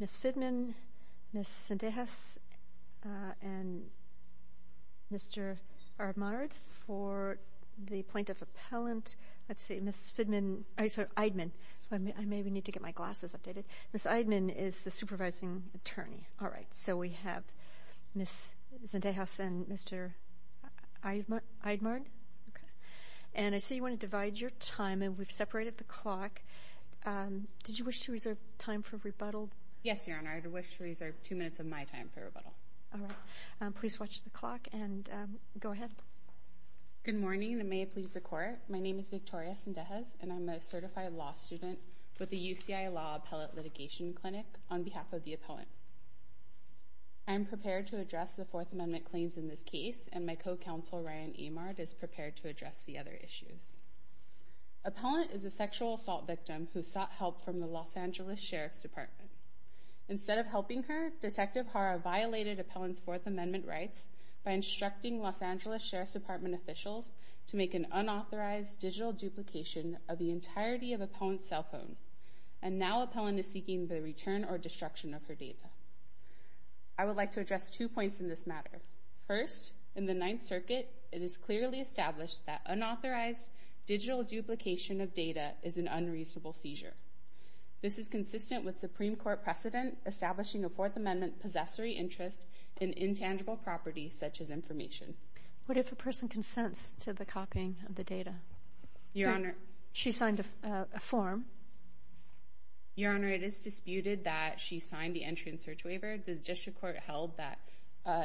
Ms. Fidman, Ms. Cendejas, and Mr. Armard for the plaintiff appellant. Ms. Fidman is the supervising attorney. Ms. Cendejas and Mr. Armard. I see you want to divide your time. We've separated the clock. Did you wish to reserve time for rebuttal? Yes, Your Honor. I wish to reserve two minutes of my time for rebuttal. Please watch the clock. Go ahead. Good morning, and may it please the Court. My name is Victoria Cendejas, and I'm a certified law student with the UCI Law Appellate Litigation Clinic on behalf of the appellant. I am prepared to address the Fourth Amendment claims in this case, and my co-counsel, Ryan Amard, is prepared to address the other issues. Appellant is a sexual assault victim who sought help from the Los Angeles Sheriff's Department. Instead of helping her, Detective Hara violated appellant's Fourth Amendment rights by instructing Los Angeles Sheriff's Department officials to make an unauthorized digital duplication of the entirety of appellant's cell phone, and now appellant is seeking the return or destruction of her data. I would like to address two points in this matter. First, in the Ninth Circuit, it is clearly established that unauthorized digital duplication of data is an unreasonable seizure. This is consistent with Supreme Court precedent establishing a Fourth Amendment possessory interest in intangible property such as information. What if a person consents to the copying of the data? Your Honor. She signed a form. Your Honor, it is disputed that she signed the entry and search waiver. The district court held that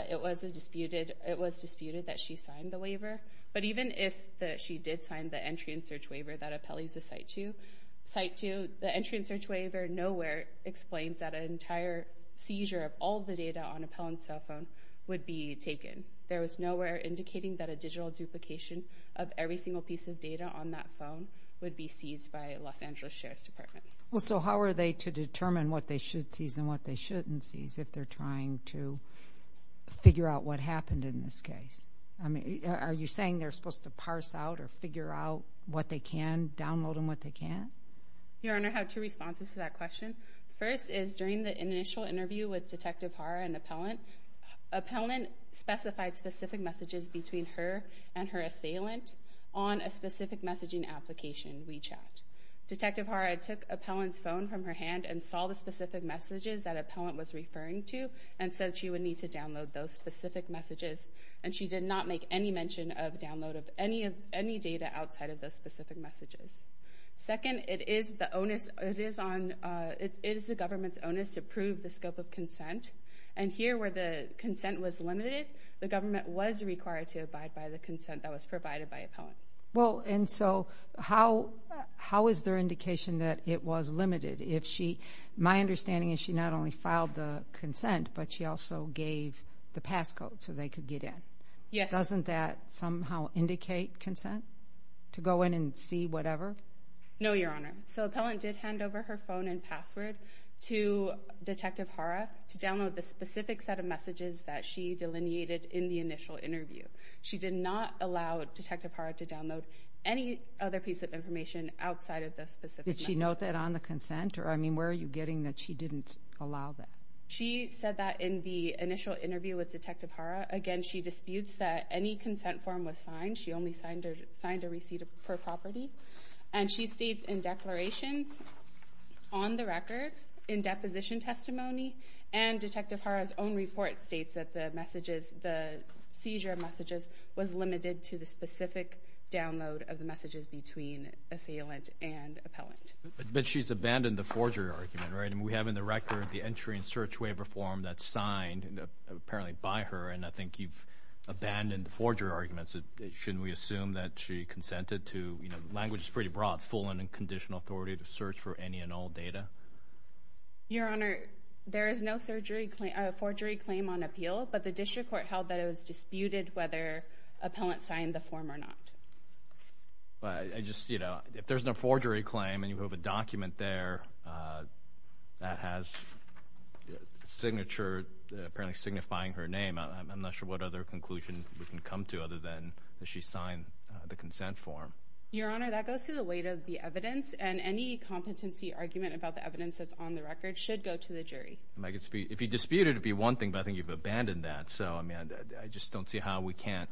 it was disputed that she signed the waiver, but even if she did sign the entry and search waiver that appellees assigned to, the entry and search waiver nowhere explains that an entire seizure of all the data on appellant's cell phone would be taken. There is nowhere indicating that a digital duplication of every single piece of data on that phone would be seized by Los Angeles Sheriff's Department. So how are they to determine what they should seize and what they shouldn't seize if they're trying to figure out what happened in this case? Are you saying they're supposed to parse out or figure out what they can, download them what they can? Your Honor, I have two responses to that question. First is during the initial interview with Detective Hara and appellant, appellant specified specific messages between her and her assailant on a specific messaging application, WeChat. Detective Hara took appellant's phone from her hand and saw the specific messages that appellant was referring to and said she would need to download those specific messages and she did not make any mention of download of any data outside of those specific messages. Second, it is the government's onus to prove the scope of consent and here where the consent was limited, the government was required to abide by the consent that was provided by appellant. Well, and so how is there indication that it was limited? My understanding is she not only filed the consent, but she also gave the passcode so they could get in. Yes. Doesn't that somehow indicate consent to go in and see whatever? No, Your Honor. So appellant did hand over her phone and password to Detective Hara to download the specific set of messages that she delineated in the initial interview. She did not allow Detective Hara to download any other piece of information outside of those specific messages. Did she note that on the consent? I mean, where are you getting that she didn't allow that? She said that in the initial interview with Detective Hara. Again, she disputes that any consent form was signed. She only signed a receipt per property. And she states in declarations on the record, in deposition testimony, and Detective Hara's own report states that the messages, the seizure of messages, was limited to the specific download of the messages between assailant and appellant. But she's abandoned the forgery argument, right? I mean, we have in the record the entry and search waiver form that's signed apparently by her, and I think you've abandoned the forgery arguments. Shouldn't we assume that she consented to, you know, language that's pretty broad, full and unconditional authority to search for any and all data? Your Honor, there is no forgery claim on appeal, but the district court held that it was disputed whether appellant signed the form or not. I just, you know, if there's no forgery claim and you have a document there that has a signature apparently signifying her name, I'm not sure what other conclusion we can come to other than that she signed the consent form. Your Honor, that goes to the weight of the evidence, and any competency argument about the evidence that's on the record should go to the jury. If you dispute it, it would be one thing, but I think you've abandoned that. So, I mean, I just don't see how we can't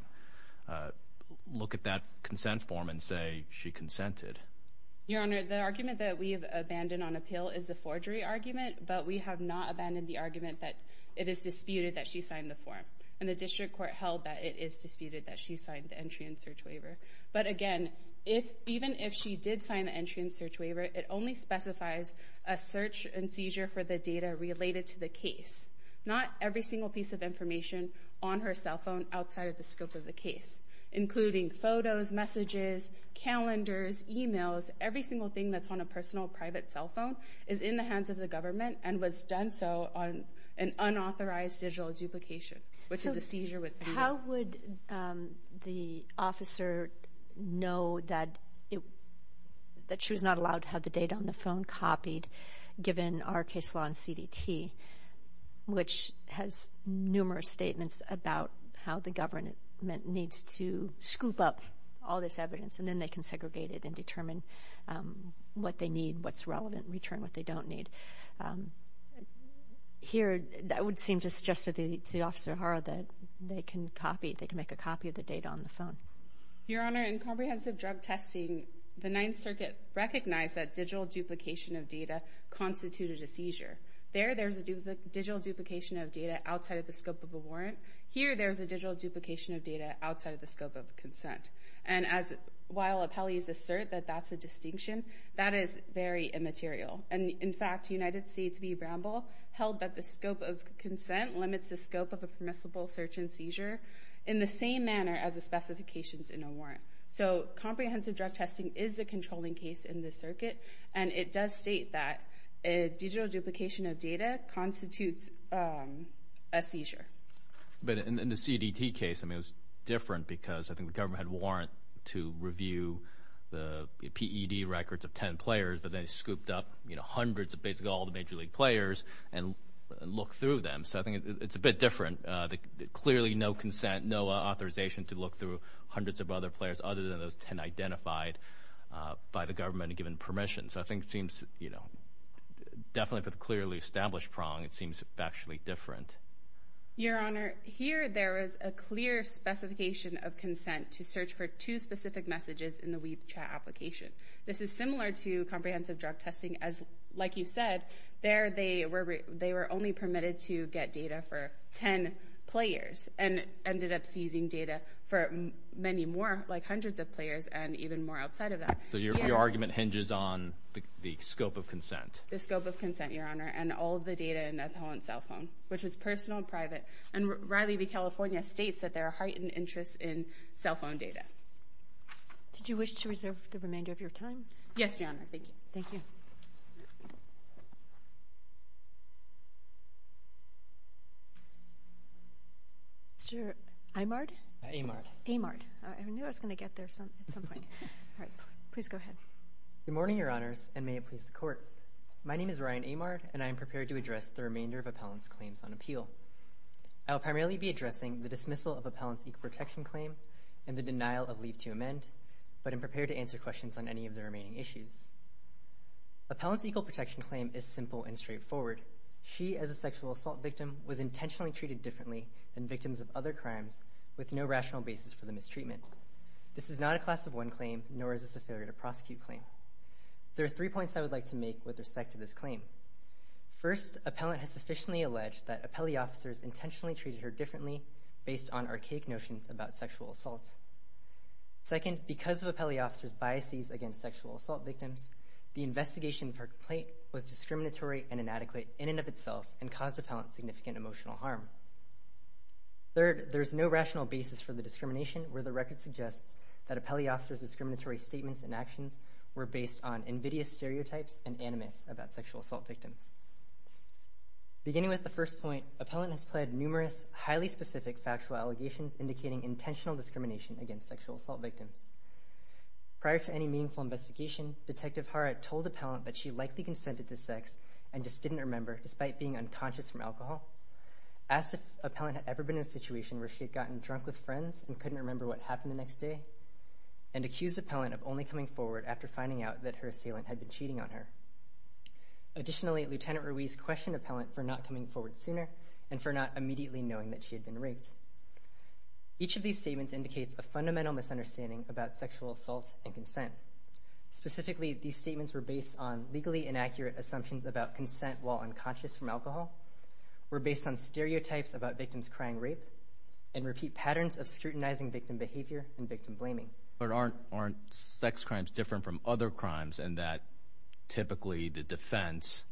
look at that consent form and say she consented. Your Honor, the argument that we have abandoned on appeal is the forgery argument, but we have not abandoned the argument that it is disputed that she signed the form, and the district court held that it is disputed that she signed the entry and search waiver. But, again, even if she did sign the entry and search waiver, it only specifies a search and seizure for the data related to the case. Not every single piece of information on her cell phone outside of the scope of the case, including photos, messages, calendars, e-mails, every single thing that's on a personal private cell phone is in the hands of the government and was done so on an unauthorized digital duplication, which is a seizure with data. How would the officer know that she was not allowed to have the data on the phone copied given our case law in CDT, which has numerous statements about how the government needs to scoop up all this evidence, and then they can segregate it and determine what they need, what's relevant, and return what they don't need. Here, that would seem to suggest to Officer Hara that they can make a copy of the data on the phone. Your Honor, in comprehensive drug testing, the Ninth Circuit recognized that digital duplication of data constituted a seizure. There, there's a digital duplication of data outside of the scope of a warrant. Here, there's a digital duplication of data outside of the scope of consent. And while appellees assert that that's a distinction, that is very immaterial. And, in fact, United States v. Bramble held that the scope of consent limits the scope of a permissible search and seizure in the same manner as the specifications in a warrant. So comprehensive drug testing is the controlling case in this circuit, and it does state that a digital duplication of data constitutes a seizure. But in the CDT case, I mean, it was different because I think the government had a warrant to review the PED records of 10 players, but they scooped up, you know, hundreds of basically all the major league players and looked through them. So I think it's a bit different. Clearly no consent, no authorization to look through hundreds of other players other than those 10 identified by the government and given permission. So I think it seems, you know, definitely for the clearly established prong, it seems factually different. Your Honor, here there is a clear specification of consent to search for two specific messages in the Weave chat application. This is similar to comprehensive drug testing as, like you said, there they were only permitted to get data for 10 players and ended up seizing data for many more, like hundreds of players, and even more outside of that. So your argument hinges on the scope of consent. The scope of consent, Your Honor, and all of the data in that cell phone, which was personal and private. And Riley v. California states that there are heightened interests in cell phone data. Did you wish to reserve the remainder of your time? Yes, Your Honor. Thank you. Thank you. Mr. Amard? Amard. Amard. I knew I was going to get there at some point. All right. Please go ahead. Good morning, Your Honors, and may it please the Court. My name is Ryan Amard, and I am prepared to address the remainder of appellants' claims on appeal. I will primarily be addressing the dismissal of appellants' equal protection claim and the denial of leave to amend, but am prepared to answer questions on any of the remaining issues. Appellants' equal protection claim is simple and straightforward. She, as a sexual assault victim, was intentionally treated differently than victims of other crimes with no rational basis for the mistreatment. This is not a class of one claim, nor is this a failure to prosecute claim. There are three points I would like to make with respect to this claim. First, appellant has sufficiently alleged that appellee officers intentionally treated her differently based on archaic notions about sexual assault. Second, because of appellee officers' biases against sexual assault victims, the investigation of her complaint was discriminatory and inadequate in and of itself and caused appellant significant emotional harm. Third, there is no rational basis for the discrimination where the record suggests that appellee officers' discriminatory statements and actions were based on invidious stereotypes and animus about sexual assault victims. Beginning with the first point, appellant has pled numerous highly specific factual allegations indicating intentional discrimination against sexual assault victims. Prior to any meaningful investigation, Detective Harrod told appellant that she likely consented to sex and just didn't remember despite being unconscious from alcohol, asked if appellant had ever been in a situation where she had gotten drunk with friends and couldn't remember what happened the next day, and accused appellant of only coming forward after finding out that her assailant had been cheating on her. Additionally, Lieutenant Ruiz questioned appellant for not coming forward sooner and for not immediately knowing that she had been raped. Each of these statements indicates a fundamental misunderstanding about sexual assault and consent. Specifically, these statements were based on legally inaccurate assumptions about consent while unconscious from alcohol, were based on stereotypes about victims crying rape, and repeat patterns of scrutinizing victim behavior and victim blaming. But aren't sex crimes different from other crimes in that typically the defense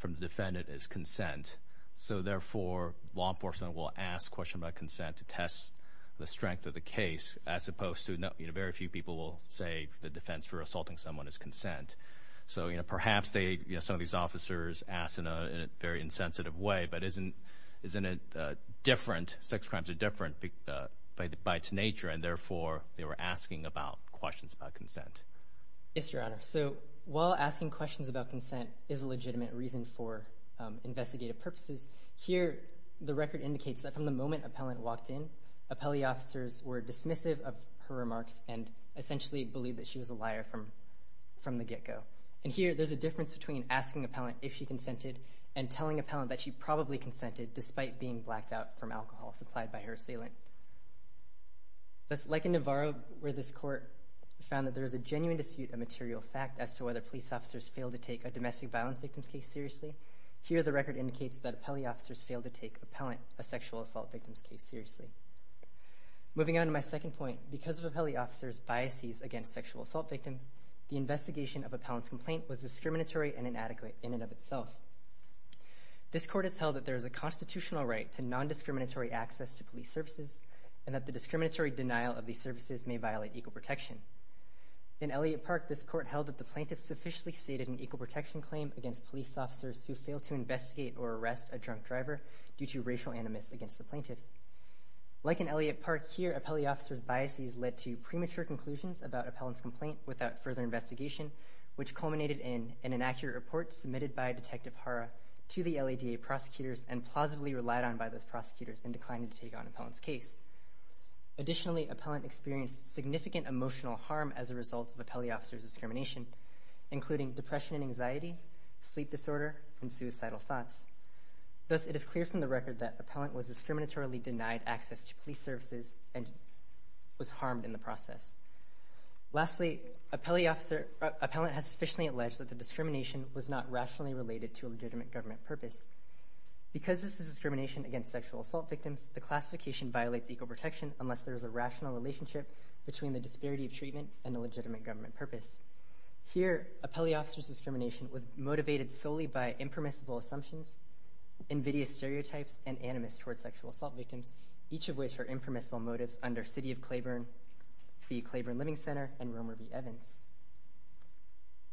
from the defendant is consent? So therefore, law enforcement will ask questions about consent to test the strength of the case, as opposed to very few people will say the defense for assaulting someone is consent. So perhaps some of these officers ask in a very insensitive way, but isn't it different, sex crimes are different by its nature, and therefore they were asking questions about consent. Yes, Your Honor. So while asking questions about consent is a legitimate reason for investigative purposes, here the record indicates that from the moment appellant walked in, appellee officers were dismissive of her remarks and essentially believed that she was a liar from the get-go. And here, there's a difference between asking appellant if she consented and telling appellant that she probably consented despite being blacked out from alcohol supplied by her assailant. Like in Navarro, where this court found that there is a genuine dispute of material fact as to whether police officers fail to take a domestic violence victim's case seriously, here the record indicates that appellee officers fail to take appellant, a sexual assault victim's case, seriously. Moving on to my second point, because of appellee officers' biases against sexual assault victims, the investigation of appellant's complaint was discriminatory and inadequate in and of itself. This court has held that there is a constitutional right to non-discriminatory access to police services and that the discriminatory denial of these services may violate equal protection. In Elliott Park, this court held that the plaintiff sufficiently stated an equal protection claim against police officers who fail to investigate or arrest a drunk driver due to racial animus against the plaintiff. Like in Elliott Park, here appellee officers' biases led to premature conclusions about appellant's complaint without further investigation, which culminated in an inaccurate report submitted by Detective Hara to the LADA prosecutors and plausibly relied on by those prosecutors and declined to take on appellant's case. Additionally, appellant experienced significant emotional harm as a result of appellee officers' discrimination, including depression and anxiety, sleep disorder, and suicidal thoughts. Thus, it is clear from the record that appellant was discriminatorily denied access to police services and was harmed in the process. Lastly, appellant has sufficiently alleged that the discrimination was not rationally related to a legitimate government purpose. Because this is discrimination against sexual assault victims, the classification violates equal protection unless there is a rational relationship between the disparity of treatment and a legitimate government purpose. Here, appellee officers' discrimination was motivated solely by impermissible assumptions, invidious stereotypes, and animus towards sexual assault victims, each of which are impermissible motives under City of Claiborne, the Claiborne Living Center, and Romer v. Evans.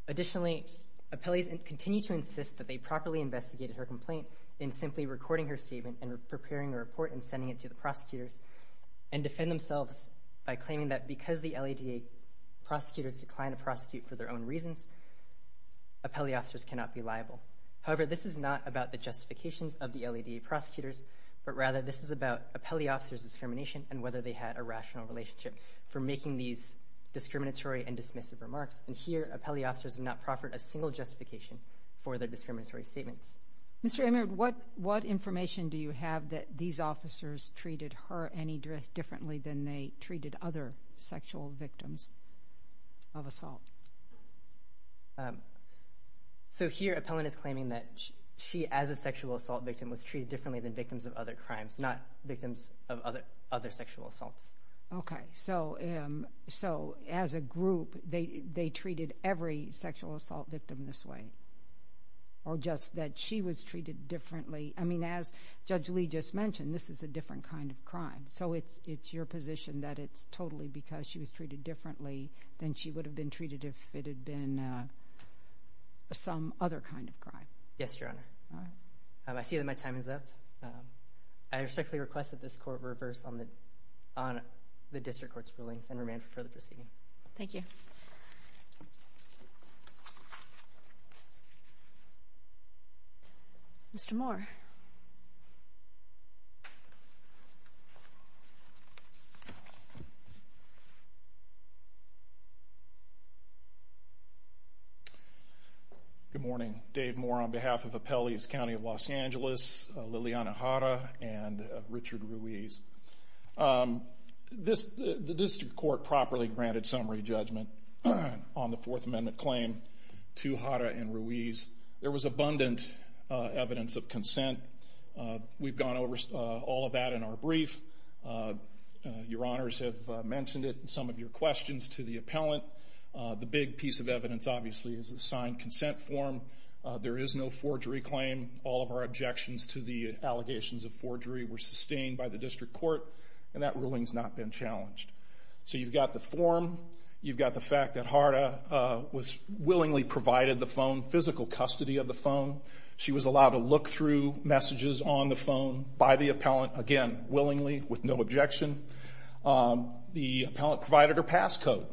Additionally, appellees continue to insist that they properly investigated her complaint in simply recording her statement and preparing a report and sending it to the prosecutors and defend themselves by claiming that because the LADA prosecutors declined to prosecute for their own reasons, appellee officers cannot be liable. However, this is not about the justifications of the LADA prosecutors, but rather this is about appellee officers' discrimination and whether they had a rational relationship for making these discriminatory and dismissive remarks. And here, appellee officers have not proffered a single justification for their discriminatory statements. Mr. Emerd, what information do you have that these officers treated her any differently than they treated other sexual victims of assault? Here, appellant is claiming that she, as a sexual assault victim, was treated differently than victims of other crimes, not victims of other sexual assaults. Okay. So as a group, they treated every sexual assault victim this way? Or just that she was treated differently? I mean, as Judge Lee just mentioned, this is a different kind of crime. So it's your position that it's totally because she was treated differently than she would have been treated if it had been some other kind of crime? Yes, Your Honor. All right. I see that my time is up. I respectfully request that this court reverse on the district court's rulings and remand for further proceeding. Mr. Moore. Good morning. Dave Moore on behalf of Appellee's County of Los Angeles, Liliana Jara, and Richard Ruiz. The district court properly granted summary judgment on the Fourth Amendment claim to Jara and Ruiz. and there was no evidence of sexual assault. We've gone over all of that in our brief. Your Honors have mentioned it in some of your questions to the appellant. The big piece of evidence, obviously, is the signed consent form. There is no forgery claim. All of our objections to the allegations of forgery were sustained by the district court, and that ruling has not been challenged. So you've got the form. You've got the fact that Jara was willingly provided the phone, physical custody of the phone. She was allowed to look through messages on the phone by the appellant, again, willingly with no objection. The appellant provided her passcode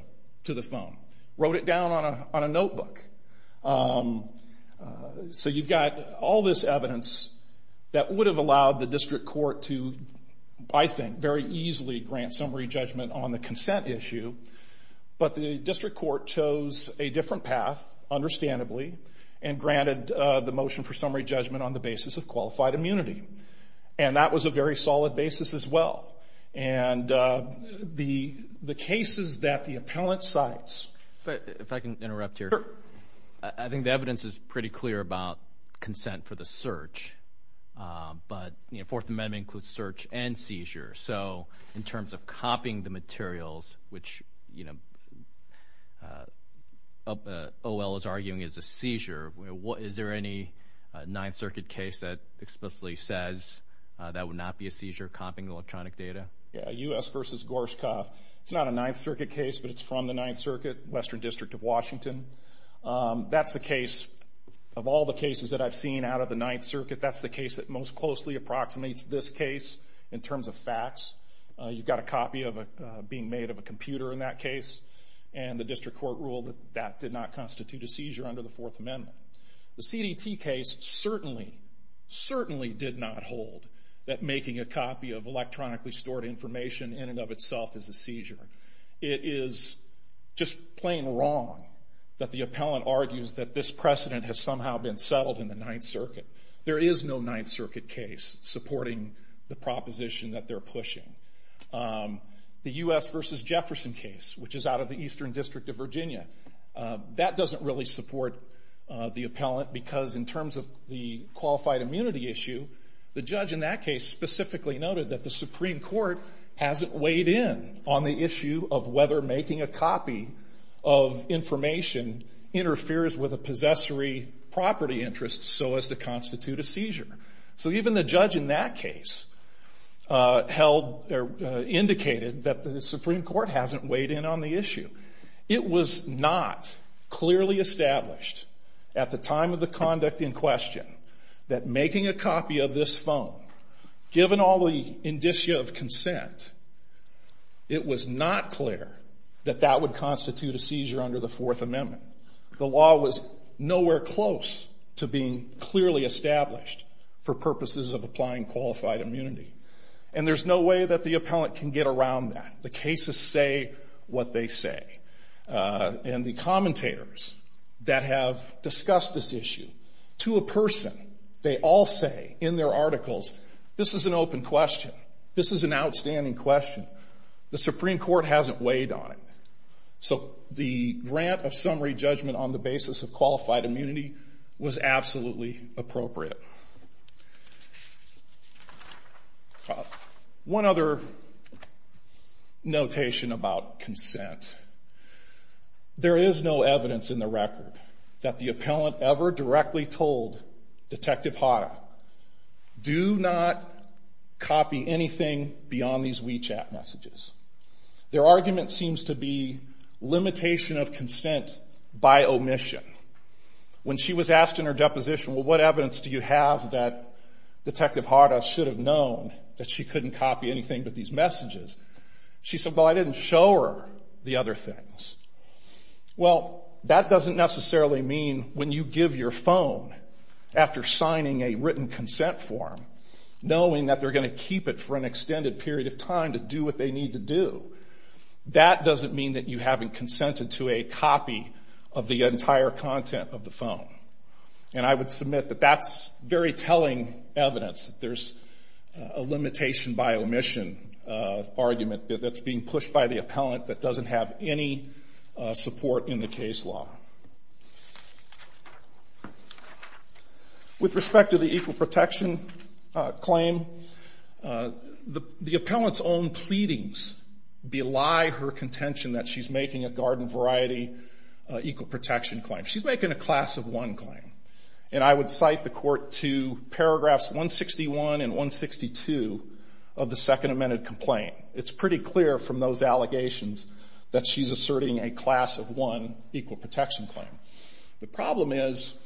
to the phone, wrote it down on a notebook. So you've got all this evidence that would have allowed the district court to, I think, very easily grant summary judgment on the consent issue, but the district court chose a different path, understandably, and granted the motion for summary judgment on the basis of qualified immunity. And that was a very solid basis as well. And the cases that the appellant cites. If I can interrupt here. Sure. I think the evidence is pretty clear about consent for the search, but Fourth Amendment includes search and seizure. So in terms of copying the materials, which O.L. is arguing is a seizure, is there any Ninth Circuit case that explicitly says that would not be a seizure, copying electronic data? U.S. v. Gorshkov. It's not a Ninth Circuit case, but it's from the Ninth Circuit, Western District of Washington. That's the case of all the cases that I've seen out of the Ninth Circuit. That's the case that most closely approximates this case in terms of facts. You've got a copy being made of a computer in that case, and the district court ruled that that did not constitute a seizure under the Fourth Amendment. The CDT case certainly, certainly did not hold that making a copy of electronically stored information in and of itself is a seizure. It is just plain wrong that the appellant argues that this precedent has somehow been settled in the Ninth Circuit. There is no Ninth Circuit case supporting the proposition that they're pushing. The U.S. v. Jefferson case, which is out of the Eastern District of Virginia, that doesn't really support the appellant because in terms of the qualified immunity issue, the judge in that case specifically noted that the Supreme Court hasn't weighed in on the issue of whether making a copy of information interferes with a possessory property interest so as to constitute a seizure. So even the judge in that case held, or indicated, that the Supreme Court hasn't weighed in on the issue. It was not clearly established at the time of the conduct in question that making a copy of this phone, given all the indicia of consent, it was not clear that that would constitute a seizure under the Fourth Amendment. The law was nowhere close to being clearly established for purposes of applying qualified immunity. And there's no way that the appellant can get around that. The cases say what they say. And the commentators that have discussed this issue, to a person, they all say in their articles, this is an open question. This is an outstanding question. The Supreme Court hasn't weighed on it. So the grant of summary judgment on the basis of qualified immunity was absolutely appropriate. One other notation about consent. There is no evidence in the record that the appellant ever directly told Detective Hara, do not copy anything beyond these WeChat messages. Their argument seems to be limitation of consent by omission. When she was asked in her deposition, well, what evidence do you have that Detective Hara should have known that she couldn't copy anything but these messages? She said, well, I didn't show her the other things. Well, that doesn't necessarily mean when you give your phone, after signing a written consent form, knowing that they're going to keep it for an extended period of time to do what they need to do. That doesn't mean that you haven't consented to a copy of the entire content of the phone. And I would submit that that's very telling evidence that there's a limitation by omission argument that's being pushed by the appellant that doesn't have any support in the case law. With respect to the equal protection claim, the appellant's own pleadings belie her contention that she's making a garden variety equal protection claim. She's making a class of one claim. And I would cite the Court to paragraphs 161 and 162 of the Second Amended Complaint. It's pretty clear from those allegations that she's asserting a class of one equal protection claim. The problem is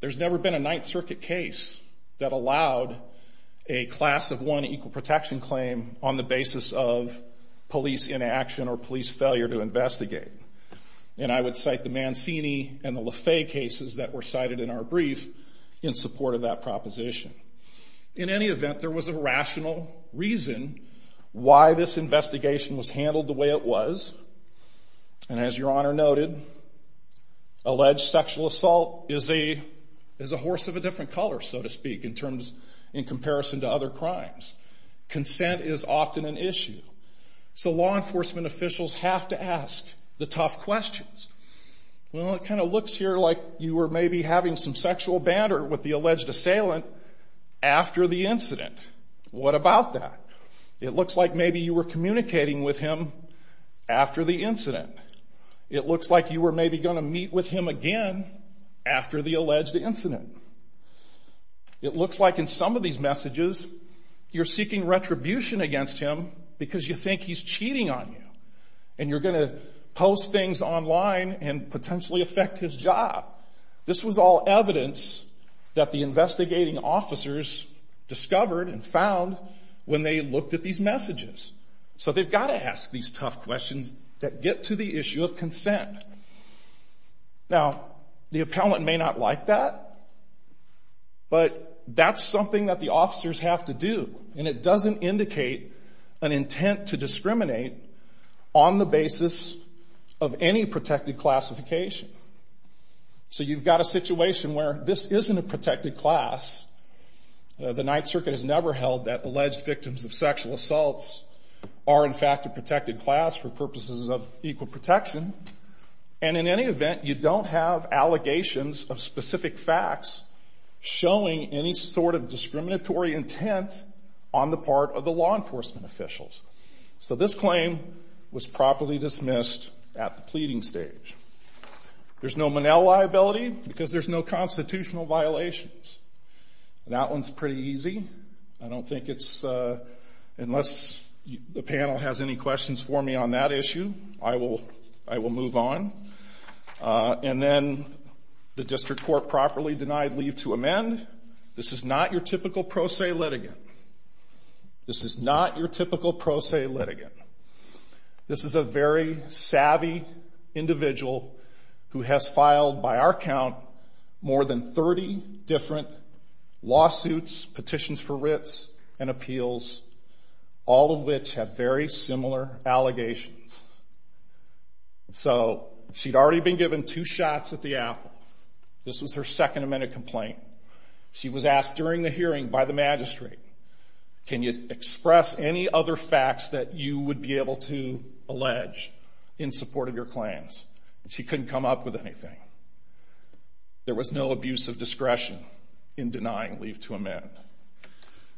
there's never been a Ninth Circuit case that allowed a class of one equal protection claim on the basis of police inaction or police failure to investigate. And I would cite the Mancini and the Le Fay cases that were cited in our brief in support of that proposition. In any event, there was a rational reason why this investigation was handled the way it was. And as Your Honor noted, alleged sexual assault is a horse of a different color, so to speak, in comparison to other crimes. Consent is often an issue. So law enforcement officials have to ask the tough questions. Well, it kind of looks here like you were maybe having some sexual banter with the alleged assailant after the incident. What about that? It looks like maybe you were communicating with him after the incident. It looks like you were maybe going to meet with him again after the alleged incident. It looks like in some of these messages, you're seeking retribution against him because you think he's cheating on you, and you're going to post things online and potentially affect his job. This was all evidence that the investigating officers discovered and found when they looked at these messages. So they've got to ask these tough questions that get to the issue of consent. Now, the appellant may not like that, but that's something that the officers have to do, and it doesn't indicate an intent to discriminate on the basis of any protected classification. So you've got a situation where this isn't a protected class. The Ninth Circuit has never held that alleged victims of sexual assaults are in fact a protected class for purposes of equal protection. And in any event, you don't have allegations of specific facts showing any sort of discriminatory intent on the part of the law enforcement officials. So this claim was properly dismissed at the pleading stage. There's no Monell liability because there's no constitutional violations. That one's pretty easy. I don't think it's unless the panel has any questions for me on that issue, I will move on. And then the district court properly denied leave to amend. This is not your typical pro se litigant. This is not your typical pro se litigant. This is a very savvy individual who has filed by our count more than 30 different lawsuits, petitions for writs, and appeals, all of which have very similar allegations. So she'd already been given two shots at the apple. This was her Second Amendment complaint. She was asked during the hearing by the magistrate, can you express any other facts that you would be able to allege in support of your claims? She couldn't come up with anything. There was no abuse of discretion in denying leave to amend.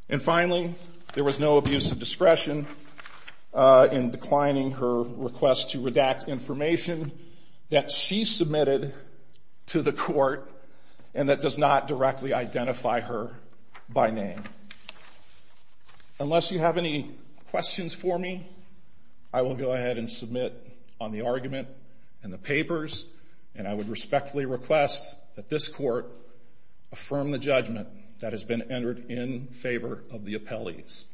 And finally, there was no abuse of discretion in declining her request to redact information that she submitted to the court and that does not directly identify her by name. Unless you have any questions for me, I will go ahead and submit on the argument and the papers, and I would respectfully request that this court affirm the judgment that has been entered in favor of the appellees.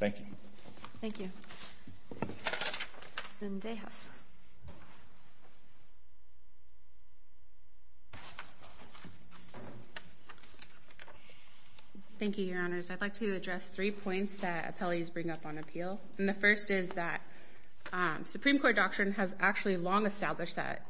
Thank you. Thank you. Ms. Dejas. Thank you, Your Honors. I'd like to address three points that appellees bring up on appeal. And the first is that Supreme Court doctrine has actually long established that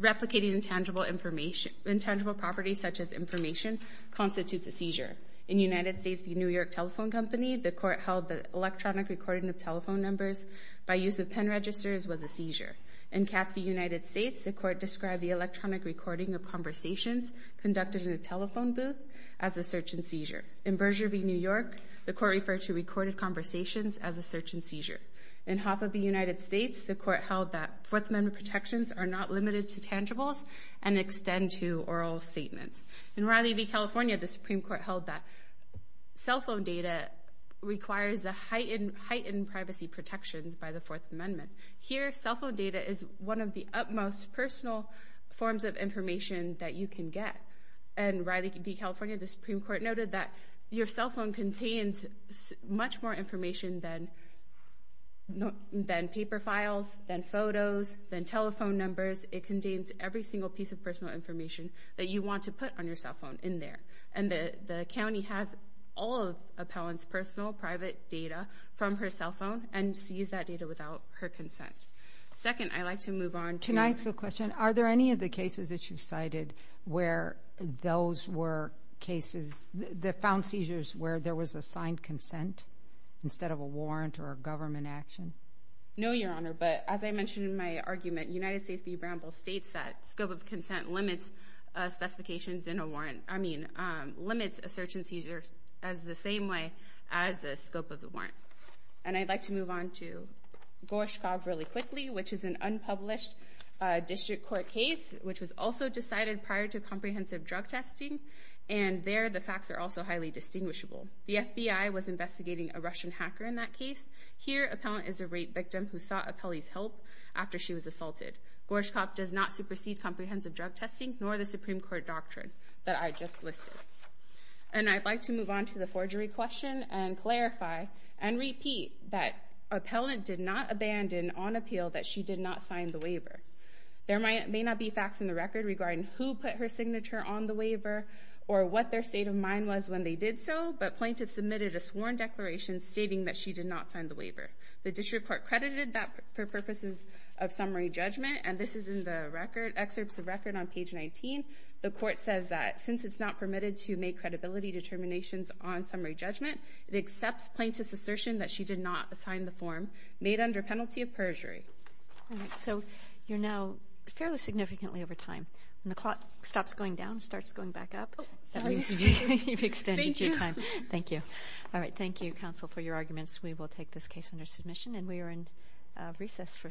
replicating intangible property such as information constitutes a seizure. In the United States, the New York Telephone Company, the court held that electronic recording of telephone numbers by use of pen registers was a seizure. In Cassidy, United States, the court described the electronic recording of conversations conducted in a telephone booth as a search and seizure. In Berger v. New York, the court referred to recorded conversations as a search and seizure. In Hoffa v. United States, the court held that Fourth Amendment protections are not limited to tangibles and extend to oral statements. In Riley v. California, the Supreme Court held that cell phone data requires a heightened privacy protections by the Fourth Amendment. Here, cell phone data is one of the utmost personal forms of information that you can get. In Riley v. California, the Supreme Court noted that your cell phone contains much more information than paper files, than photos, than telephone numbers. It contains every single piece of personal information that you want to put on your cell phone in there. And the county has all of Appellant's personal private data from her cell phone and sees that data without her consent. Second, I'd like to move on to- Can I ask a question? Are there any of the cases that you cited where those were cases, that found seizures where there was a signed consent instead of a warrant or a government action? No, Your Honor, but as I mentioned in my argument, United States v. Bramble states that scope of consent limits specifications in a warrant- I mean, limits a search and seizure as the same way as the scope of the warrant. And I'd like to move on to Gorshkov really quickly, which is an unpublished district court case, which was also decided prior to comprehensive drug testing. And there, the facts are also highly distinguishable. The FBI was investigating a Russian hacker in that case. Here, Appellant is a rape victim who sought Appellee's help after she was assaulted. Gorshkov does not supersede comprehensive drug testing, nor the Supreme Court doctrine that I just listed. And I'd like to move on to the forgery question and clarify and repeat that Appellant did not abandon on appeal that she did not sign the waiver. There may not be facts in the record regarding who put her signature on the waiver or what their state of mind was when they did so, but plaintiffs submitted a sworn declaration stating that she did not sign the waiver. The district court credited that for purposes of summary judgment, and this is in the record, excerpts of record on page 19. The court says that since it's not permitted to make credibility determinations on summary judgment, it accepts plaintiff's assertion that she did not sign the form made under penalty of perjury. So you're now fairly significantly over time. When the clock stops going down, it starts going back up. That means you've expended your time. Thank you. All right, thank you, counsel, for your arguments. We will take this case under submission, and we are in recess for today.